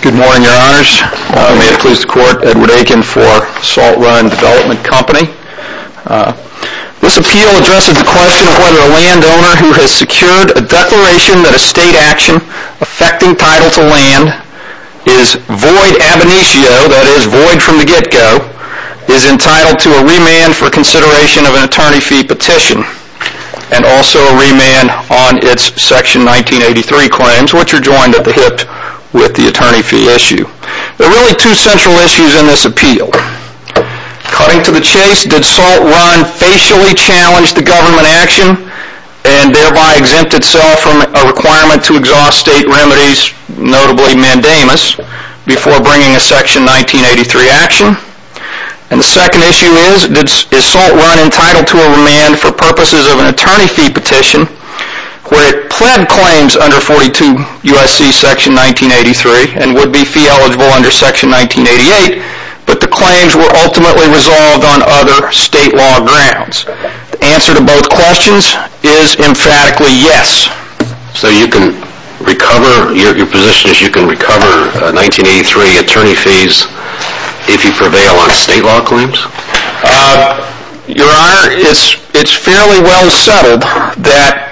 Good morning your honors. May it please the court, Edward Aiken for Salt Run Development Company. This appeal addresses the question of whether a landowner who has secured a declaration that a state action affecting title to land is void ab initio, that is void from the get go, is entitled to a remand for consideration of an attorney fee petition and also a remand on its section 1983 claims which are joined at the hip with the attorney fee issue. There are really two central issues in this appeal. Cutting to the chase, did Salt Run facially challenge the government action and thereby exempt itself from a requirement to exhaust state remedies, notably mandamus, before bringing a section 1983 action? And the second issue is, is Salt Run entitled to a remand for purposes of an attorney fee petition where it pled claims under 42 U.S.C. section 1983 and would be fee eligible under section 1988 but the claims were ultimately resolved on other state law grounds? The answer to both questions is emphatically yes. So you can recover, your position is you can recover 1983 attorney fees if you prevail on state law claims? Your honor, it's fairly well settled that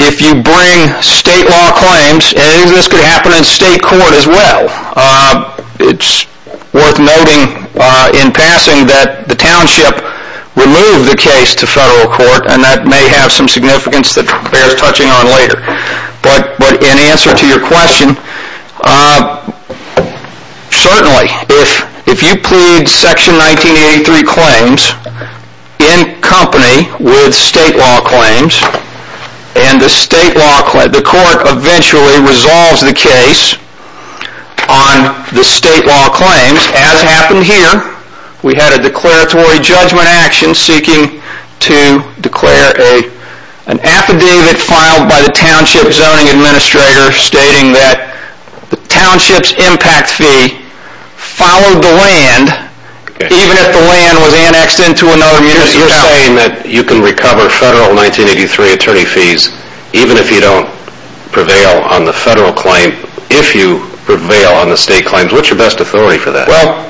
if you bring state law claims, and this could happen in state court as well, it's worth noting in passing that the township removed the case to federal court and that may have some significance that bears touching on later. But in answer to your question, certainly if you plead section 1983 claims in company with state law claims and the state law, the court eventually resolves the case on the state law claims, as happened here, we had a declaratory judgment action seeking to declare an affidavit filed by the township zoning administrator stating that the township's impact fee followed the land even if the land was annexed into another municipality. You're saying that you can recover federal 1983 attorney fees even if you don't prevail on the federal claim, if you prevail on the state claims, what's your best authority for that? Well,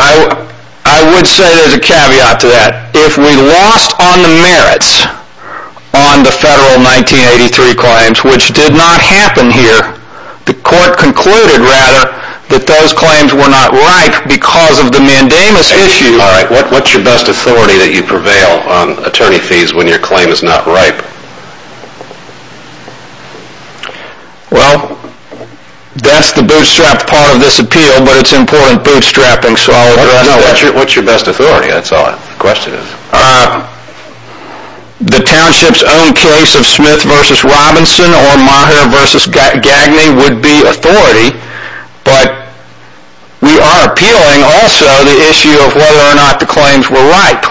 I would say there's a caveat to that. If we lost on the merits on the federal 1983 claims, which did not happen here, the court concluded rather that those claims were not ripe because of the mandamus issue. Alright, what's your best authority that you prevail on attorney fees when your claim is not ripe? Well, that's the bootstrapped part of this appeal, but it's important bootstrapping. What's your best authority? That's all the question is. The township's own case of Smith v. Robinson or Meagher v. Gagne would be authority, but we are appealing also the issue of whether or not the claims were ripe.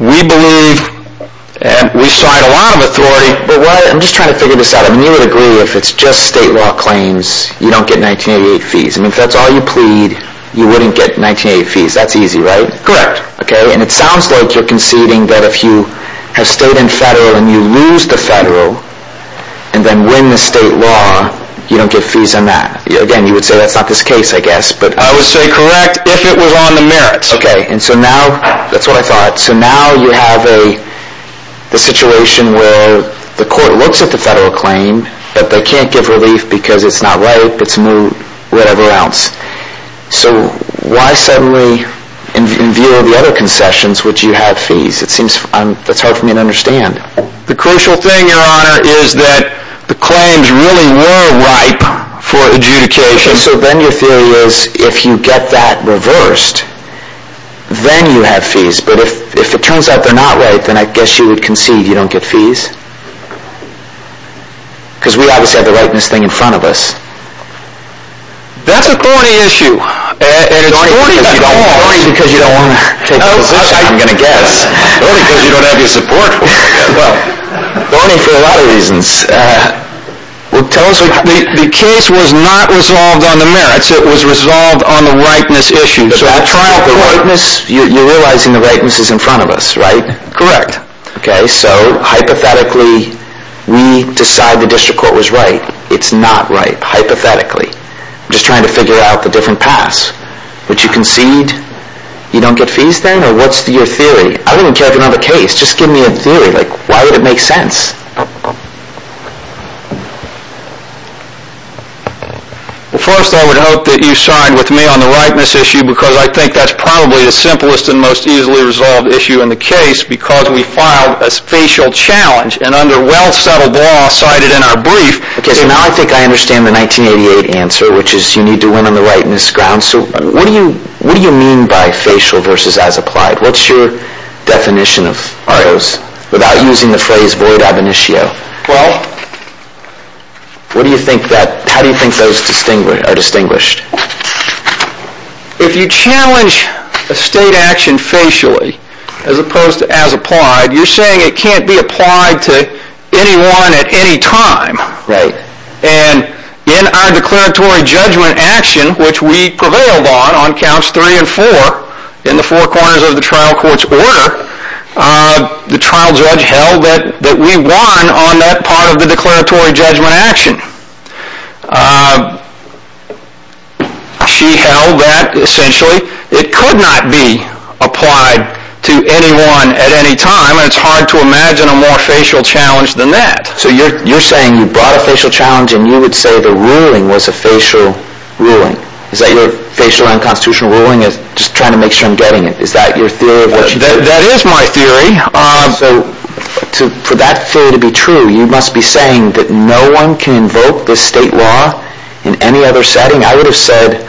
We believe, and we cite a lot of authority, but what I'm just trying to figure this out, I mean you would agree if it's just state law claims, you don't get 1988 fees, I mean if that's all you plead, you wouldn't get 1988 fees, that's easy, right? Correct. Okay, and it sounds like you're conceding that if you have stayed in federal and you lose the federal and then win the state law, you don't get fees on that. Again, you would say that's not this case, I guess, but... I would say correct if it was on the merits. Okay, and so now, that's what I thought, so now you have a situation where the court looks at the federal claim, but they can't give relief because it's not ripe, it's moot, whatever else. So why suddenly, in view of the other concessions, would you have fees? It seems, that's hard for me to understand. The crucial thing, your honor, is that the claims really were ripe for adjudication. Okay, so then your theory is, if you get that reversed, then you have fees, but if it turns out they're not ripe, then I guess you would concede you don't get fees? Because we obviously have the rightness thing in front of us. That's a thorny issue, and it's thorny because you don't want to take the position, I'm going to guess. Thorny because you don't have your support for it. Well, thorny for a lot of reasons. The case was not resolved on the merits, it was resolved on the ripeness issue. You're realizing the ripeness is in front of us, right? Correct. Okay, so hypothetically, we decide the district court was right, it's not ripe, hypothetically. I'm just trying to figure out the different paths. Would you concede you don't get fees then, or what's your theory? I don't even care if you don't have a case, just give me a theory, why would it make sense? Well, first I would hope that you sign with me on the ripeness issue because I think that's probably the simplest and most easily resolved issue in the case because we filed a facial challenge, and under well-settled law cited in our brief. Okay, so now I think I understand the 1988 answer, which is you need to win on the ripeness ground, so what do you mean by facial versus as applied? What's your definition of those without using the phrase void ab initio? Well, how do you think those are distinguished? If you challenge a state action facially, as opposed to as applied, you're saying it can't be applied to anyone at any time. Right. And in our declaratory judgment action, which we prevailed on, on counts three and four in the four corners of the trial court's order, the trial judge held that we won on that part of the declaratory judgment action. She held that essentially it could not be applied to anyone at any time, and it's hard to imagine a more facial challenge than that. So you're saying you brought a facial challenge and you would say the ruling was a facial ruling? Is that your facial unconstitutional ruling? Just trying to make sure I'm getting it. Is that your theory? That is my theory. So for that theory to be true, you must be saying that no one can invoke this state law in any other setting? I would have said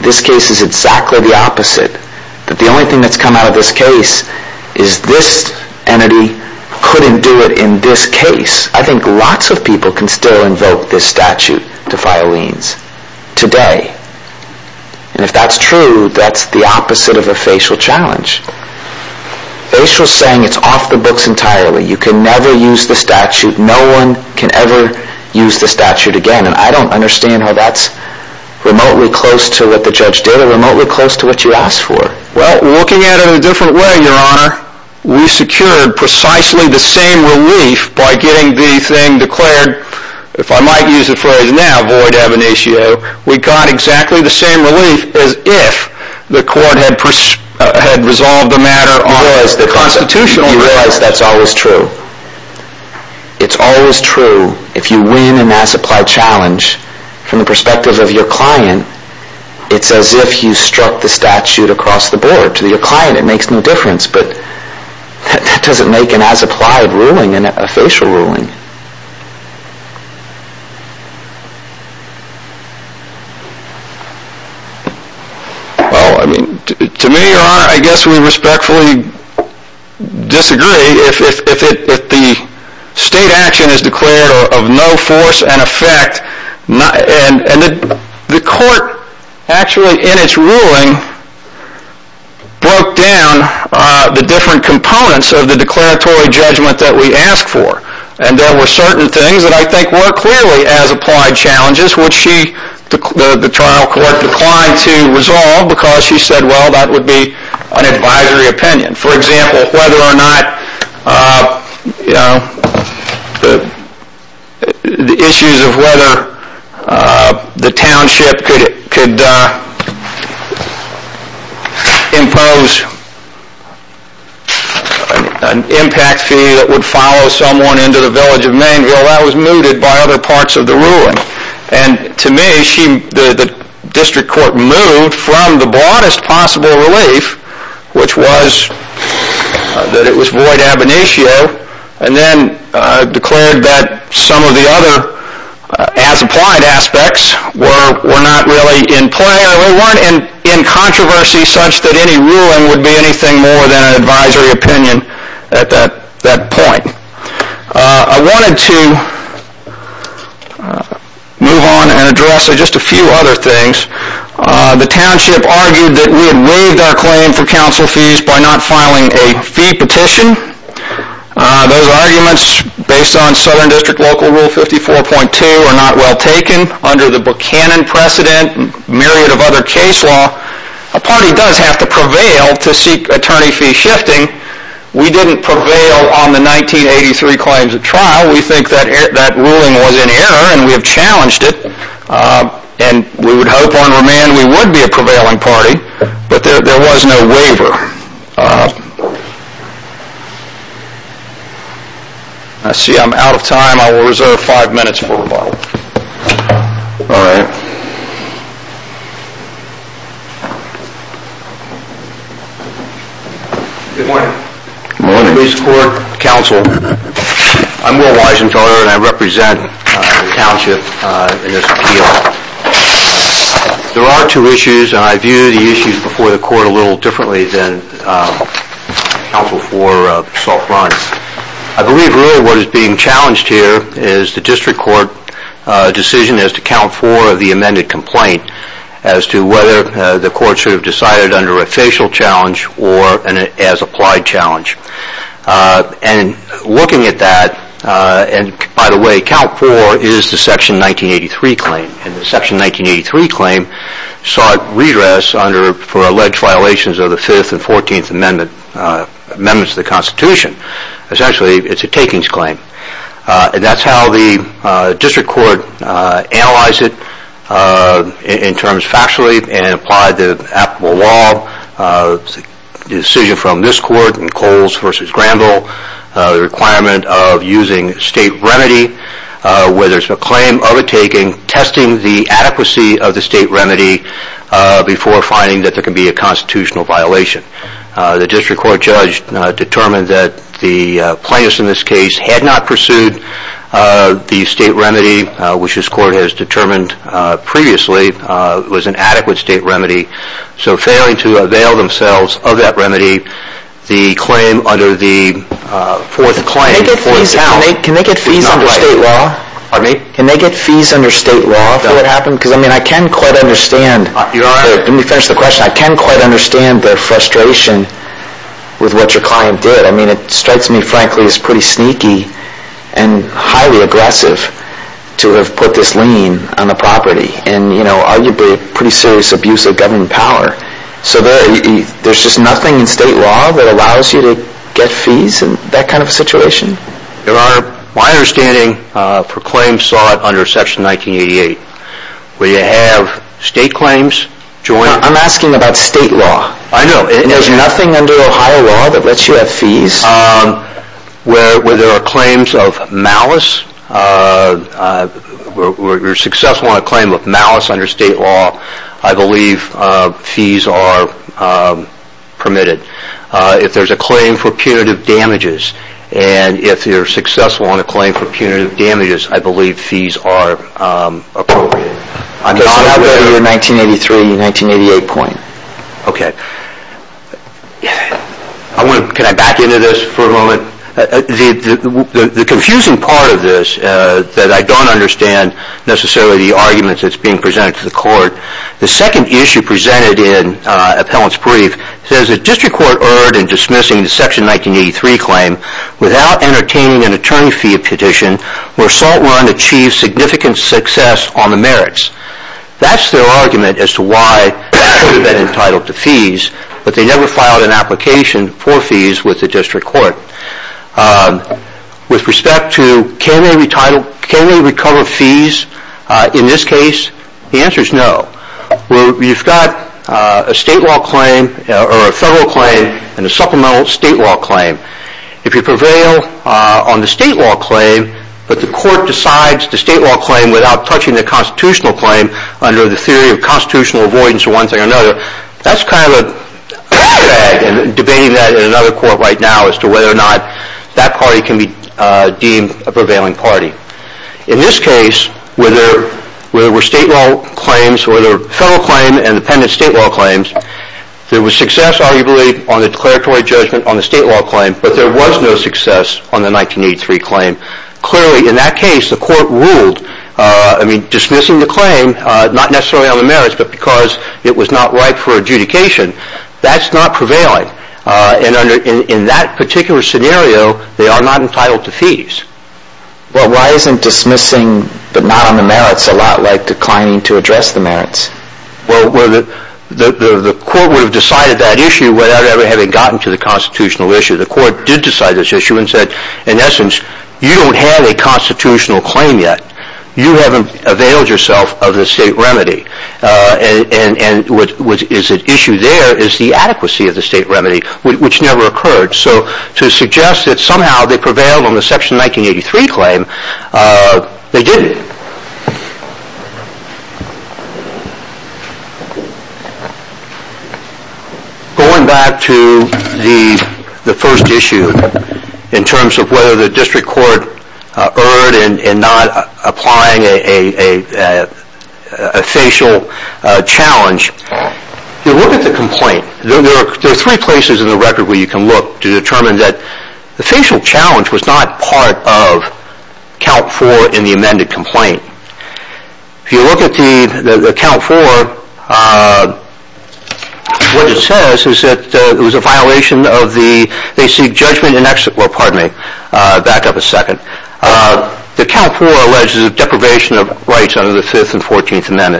this case is exactly the opposite, that the only thing that's come out of this case is this entity couldn't do it in this case. I think lots of people can still invoke this statute to file liens today, and if that's true, that's the opposite of a facial challenge. Facial's saying it's off the books entirely. You can never use the statute. No one can ever use the statute again, and I don't understand how that's remotely close to what the judge did or remotely close to what you asked for. Well, looking at it in a different way, Your Honor, we secured precisely the same relief by getting the thing declared, if I might use the phrase now, void ab initio, we got exactly the same relief as if the court had resolved the matter on a constitutional basis. You realize that's always true. It's always true. If you win an as-applied challenge from the perspective of your client, it's as if you struck the statute across the board to your client. It makes no difference, but that doesn't make an as-applied ruling a facial ruling. To me, Your Honor, I guess we respectfully disagree. If the state action is declared of no force and effect, and the court actually in its own right has taken down the different components of the declaratory judgment that we asked for, and there were certain things that I think were clearly as-applied challenges, which the trial court declined to resolve because she said, well, that would be an advisory opinion. For example, whether or not the issues of whether the township could impose an impact fee that would follow someone into the village of Mainville, that was mooted by other parts of the ruling. To me, the district court moved from the broadest possible relief, which was that it was void ab initio, and then declared that some of the other as-applied aspects were not really in play or weren't in controversy such that any ruling would be anything more than an advisory opinion at that point. I wanted to move on and address just a few other things. The township argued that we had waived our claim for council fees by not filing a fee petition. Those arguments, based on Southern District Local Rule 54.2, are not well taken. Under the Buchanan precedent and a myriad of other case law, a party does have to prevail to seek attorney fee shifting. We didn't prevail on the 1983 claims at trial. We think that ruling was in error, and we have challenged it, and we would hope on remand we would be a prevailing party, but there was no waiver. I'm out of time. I will reserve five minutes for rebuttal. All right. Good morning. Good morning. Police, court, council. I'm Will Weisenthaler, and I represent the township in this appeal. There are two issues, and I view the issues before the court a little differently than counsel for Salt Run. I believe really what is being challenged here is the district court decision as to count four of the amended complaint as to whether the court should have decided under a facial challenge or an as-applied challenge. Looking at that, and by the way, count four is the Section 1983 claim, and the Section 1983 claim sought redress for alleged violations of the Fifth and Fourteenth Amendments of the Constitution. Essentially, it's a takings claim. That's how the district court analyzed it in terms factually and applied the applicable law. The decision from this court in Coles v. Granville, the requirement of using state remedy, whether it's a claim of a taking, testing the adequacy of the state remedy before finding that there can be a constitutional violation. The district court judge determined that the plaintiffs in this case had not pursued the state remedy, which this court has determined previously was an adequate state remedy. So, failing to avail themselves of that remedy, the claim under the fourth claim... Can they get fees under state law? Pardon me? Can they get fees under state law for what happened? Because I mean, I can quite understand... You're all right. Let me finish the question. I can quite understand the frustration with what your client did. I mean, it strikes me, frankly, as pretty sneaky and highly aggressive to have put this lien on the property, and arguably a pretty serious abuse of government power. So, there's just nothing in state law that allows you to get fees in that kind of a situation? Your Honor, my understanding for claims sought under Section 1988, where you have state claims joined... I'm asking about state law. I know. There's nothing under Ohio law that lets you have fees? Where there are claims of malice, where you're successful in a claim of malice under state law, I believe fees are permitted. If there's a claim for punitive damages, and if you're successful in a claim for punitive damages, I believe fees are appropriate. I'm not aware of your 1983 and 1988 point. Okay. Can I back into this for a moment? The confusing part of this, that I don't understand necessarily the arguments that's being presented to the Court, the second issue presented in Appellant's Brief, says the District Court erred in dismissing the Section 1983 claim without entertaining an attorney fee petition, where Salt Run achieved significant success on the merits. That's their argument as to why they should have been entitled to fees, but they never filed an application for fees with the District Court. With respect to, can we recover fees in this case? The answer is no. You've got a federal claim and a supplemental state law claim. If you prevail on the state law claim, but the Court decides the state law claim without touching the constitutional claim under the theory of constitutional avoidance of one thing or another, that's kind of a drag, and debating that in another Court right now as to whether or not that party can be deemed a prevailing party. In this case, whether there were state law claims, whether there were federal claims and independent state law claims, there was success, arguably, on the declaratory judgment on the state law claim, but there was no success on the 1983 claim. Clearly, in that case, the Court ruled, I mean, dismissing the claim, not necessarily on the merits, but because it was not right for adjudication, that's not prevailing. In that particular scenario, they are not entitled to fees. Well, why isn't dismissing, but not on the merits, a lot like declining to address the merits? Well, the Court would have decided that issue without ever having gotten to the constitutional issue. The Court did decide this issue and said, in essence, you don't have a constitutional claim yet. You haven't availed yourself of the state remedy, and what is at issue there is the adequacy of the state remedy, which never occurred. So to suggest that somehow they prevailed on the Section 1983 claim, they didn't. Going back to the first issue, in terms of whether the District Court erred in not applying a facial challenge, if you look at the complaint, there are three places in the record where you can look to determine that the facial challenge was not part of Count 4 in the amended complaint. If you look at Count 4, what it says is that it was a violation of the judgment in excess of $25,000, pre-judgment, post-judgment, interest, attorney fees, and cost.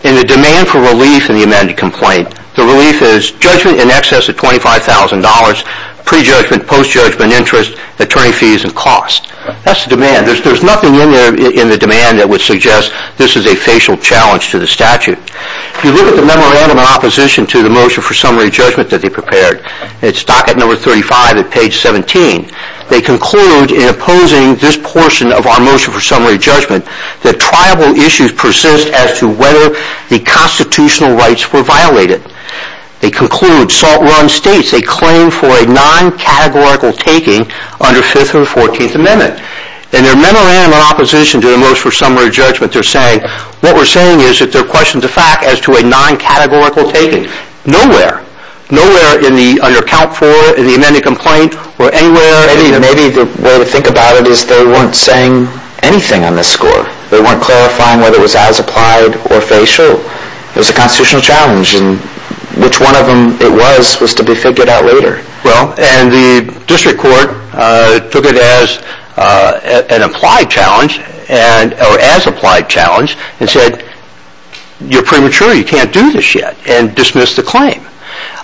In the demand for relief in the amended complaint, the relief is judgment in excess of $25,000, pre-judgment, post-judgment, interest, attorney fees, and cost. That's the demand. There's nothing in there in the demand that would suggest this is a facial challenge to the statute. If you look at the memorandum in opposition to the motion for summary judgment that they prepared, it's docket number 35 at page 17. They conclude in opposing this portion of our motion for summary judgment that triable issues persist as to whether the constitutional rights were violated. They conclude, salt run states, they claim for a non-categorical taking under 5th or 14th Amendment. In their memorandum in opposition to the motion for summary judgment, they're saying, what we're saying is that they're questioning the fact as to a non-categorical taking. Nowhere. Nowhere in the, under Count 4, in the amended complaint, or anywhere. Maybe the way to think about it is they weren't saying anything on this score. They weren't clarifying whether it was as applied or facial. It was a constitutional challenge, and which one of them it was was to be figured out later. Well, and the district court took it as an applied challenge, or as applied challenge, and said, you're premature. You can't do this yet. And dismissed the claim.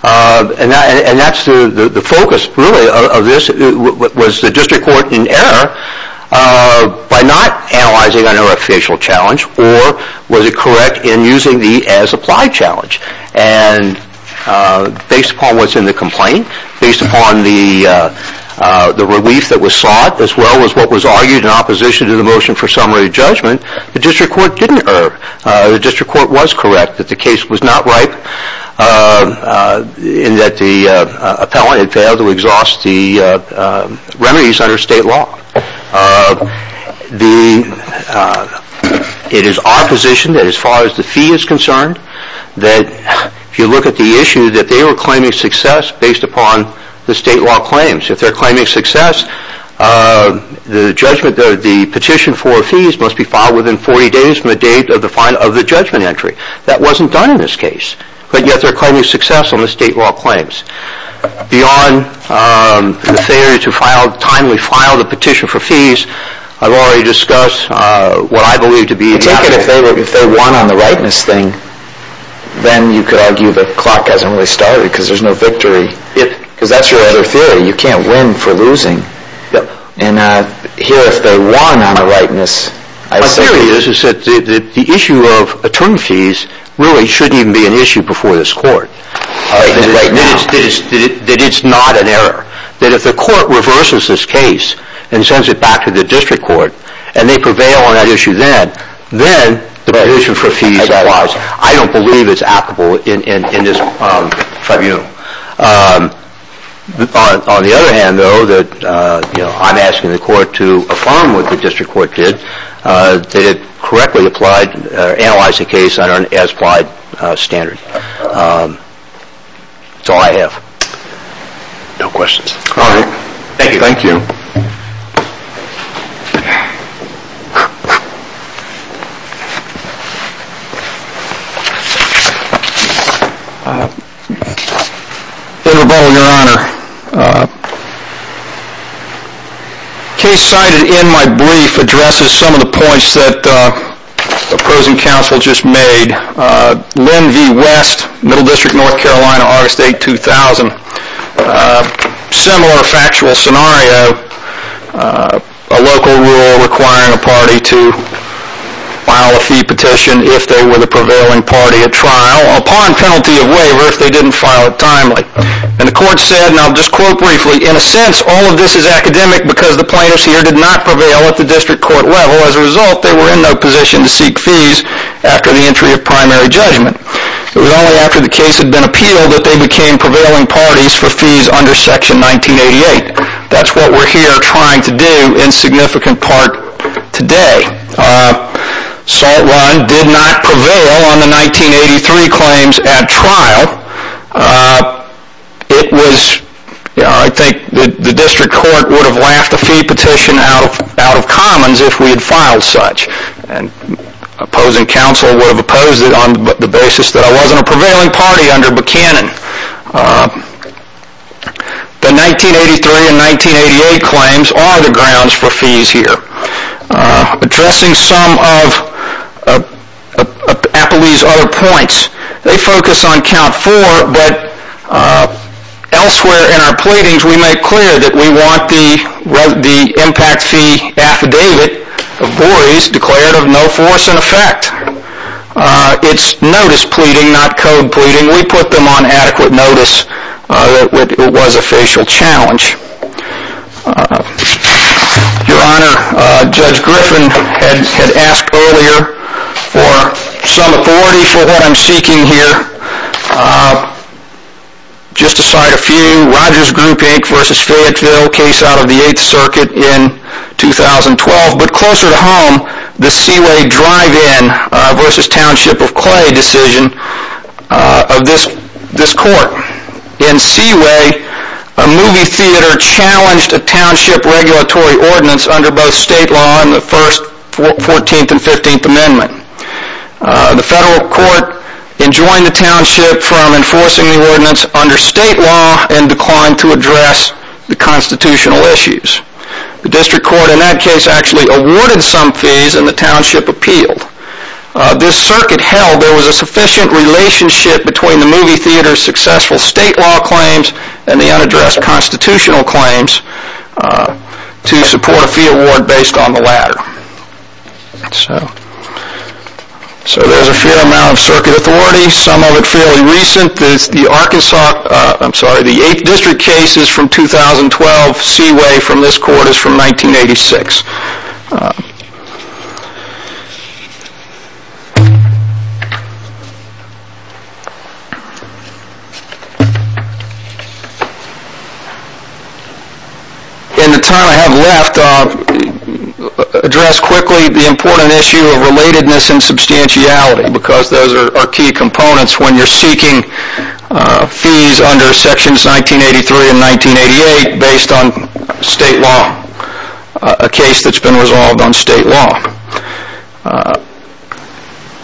And that's the focus, really, of this. Was the district court in error by not analyzing under a facial challenge, or was it correct in using the as applied challenge? And based upon what's in the complaint, based upon the relief that was sought, as well as what was argued in opposition to the motion for summary judgment, the district court didn't err. The district court was correct that the case was not ripe, in that the appellant had failed to exhaust the remedies under state law. It is our position that as far as the fee is concerned, that if you look at the issue, that they were claiming success based upon the state law claims. If they're claiming success, the petition for fees must be filed within 40 days from the date of the judgment entry. That wasn't done in this case. But yet they're claiming success on the state law claims. Beyond the theory to timely file the petition for fees, I've already discussed what I believe to be the outcome. If they won on the rightness thing, then you could argue the clock hasn't really started because there's no victory. Because that's your other theory. You can't win for losing. And here, if they won on the rightness, I assume. My theory is that the issue of attorney fees really shouldn't even be an issue before this court. That it's not an error. That if the court reverses this case and sends it back to the district court, and they prevail on that issue then, then the petition for fees applies. I don't believe it's applicable in this tribunal. On the other hand, though, I'm asking the court to affirm what the district court did, that it correctly applied or analyzed the case under an as-applied standard. That's all I have. No questions. Alright. Thank you. Thank you. David Rebola, Your Honor. The case cited in my brief addresses some of the points that opposing counsel just made. Len V. West, Middle District, North Carolina, August 8, 2000. Similar factual scenario. A local rule requiring a party to file a fee petition if they were the prevailing party at trial upon penalty of waiver if they didn't file it timely. And the court said, and I'll just quote briefly, In a sense, all of this is academic because the plaintiffs here did not prevail at the district court level. As a result, they were in no position to seek fees after the entry of primary judgment. It was only after the case had been appealed that they became prevailing parties for fees under Section 1988. That's what we're here trying to do in significant part today. Salt Run did not prevail on the 1983 claims at trial. I think the district court would have laughed a fee petition out of commons if we had filed such. And opposing counsel would have opposed it on the basis that I wasn't a prevailing party under Buchanan. The 1983 and 1988 claims are the grounds for fees here. Addressing some of Appley's other points. They focus on count four, but elsewhere in our pleadings we make clear that we want the impact fee affidavit of Borey's declared of no force in effect. It's notice pleading, not code pleading. We put them on adequate notice that it was a facial challenge. Your Honor, Judge Griffin had asked earlier for some authority for what I'm seeking here. Just to cite a few, Rogers Group Inc. v. Fayetteville, case out of the 8th Circuit in 2012. But closer to home, the Seaway Drive-In v. Township of Clay decision of this court. In Seaway, a movie theater challenged a township regulatory ordinance under both state law and the 1st, 14th, and 15th Amendment. The federal court enjoined the township from enforcing the ordinance under state law and declined to address the constitutional issues. The district court in that case actually awarded some fees and the township appealed. This circuit held there was a sufficient relationship between the movie theater's successful state law claims and the unaddressed constitutional claims to support a fee award based on the latter. So there's a fair amount of circuit authority, some of it fairly recent. The 8th District case is from 2012, Seaway from this court is from 1986. In the time I have left, I'll address quickly the important issue of relatedness and substantiality because those are key components when you're seeking fees under Sections 1983 and 1988 based on state law. A case that's been resolved on state law.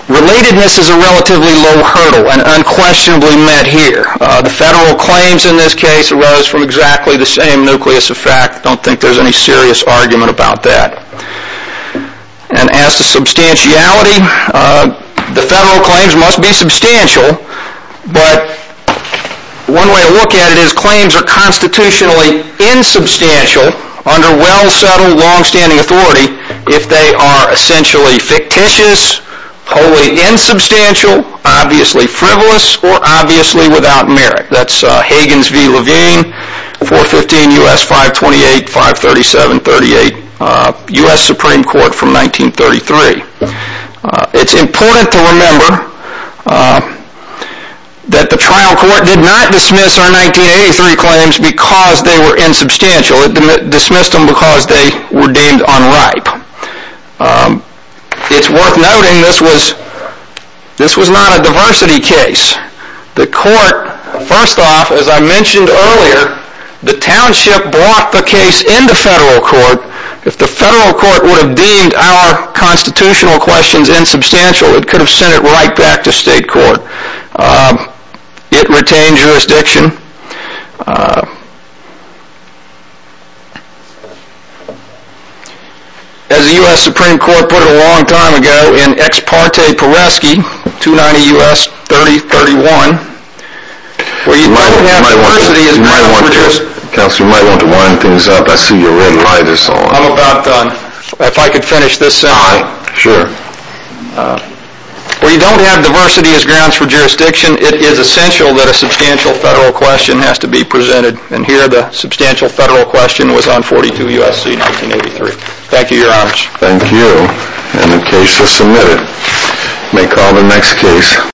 Relatedness is a relatively low hurdle and unquestionably met here. The federal claims in this case arose from exactly the same nucleus effect. I don't think there's any serious argument about that. And as to substantiality, the federal claims must be substantial, but one way to look at it is claims are constitutionally insubstantial under well settled long standing authority if they are essentially fictitious, wholly insubstantial, obviously frivolous, or obviously without merit. That's Higgins v. Levine, 415 U.S. 528-537-38, U.S. Supreme Court from 1933. It's important to remember that the trial court did not dismiss our 1983 claims because they were insubstantial, it dismissed them because they were deemed unripe. It's worth noting this was not a diversity case. The court, first off, as I mentioned earlier, the township brought the case into federal court. If the federal court would have deemed our constitutional questions insubstantial, it could have sent it right back to state court. It retained jurisdiction. As the U.S. Supreme Court put it a long time ago in Ex parte Peresky, 290 U.S. 3031, where you don't have diversity as grounds for jurisdiction. You might want to wind things up. I see you're already high. I'm about done. If I could finish this sentence. Sure. Where you don't have diversity as grounds for jurisdiction, it is essential that a substantial federal question has to be presented. And here the substantial federal question was on 42 U.S.C. 1983. Thank you, Your Honor. Thank you. And the case is submitted. May call the next case.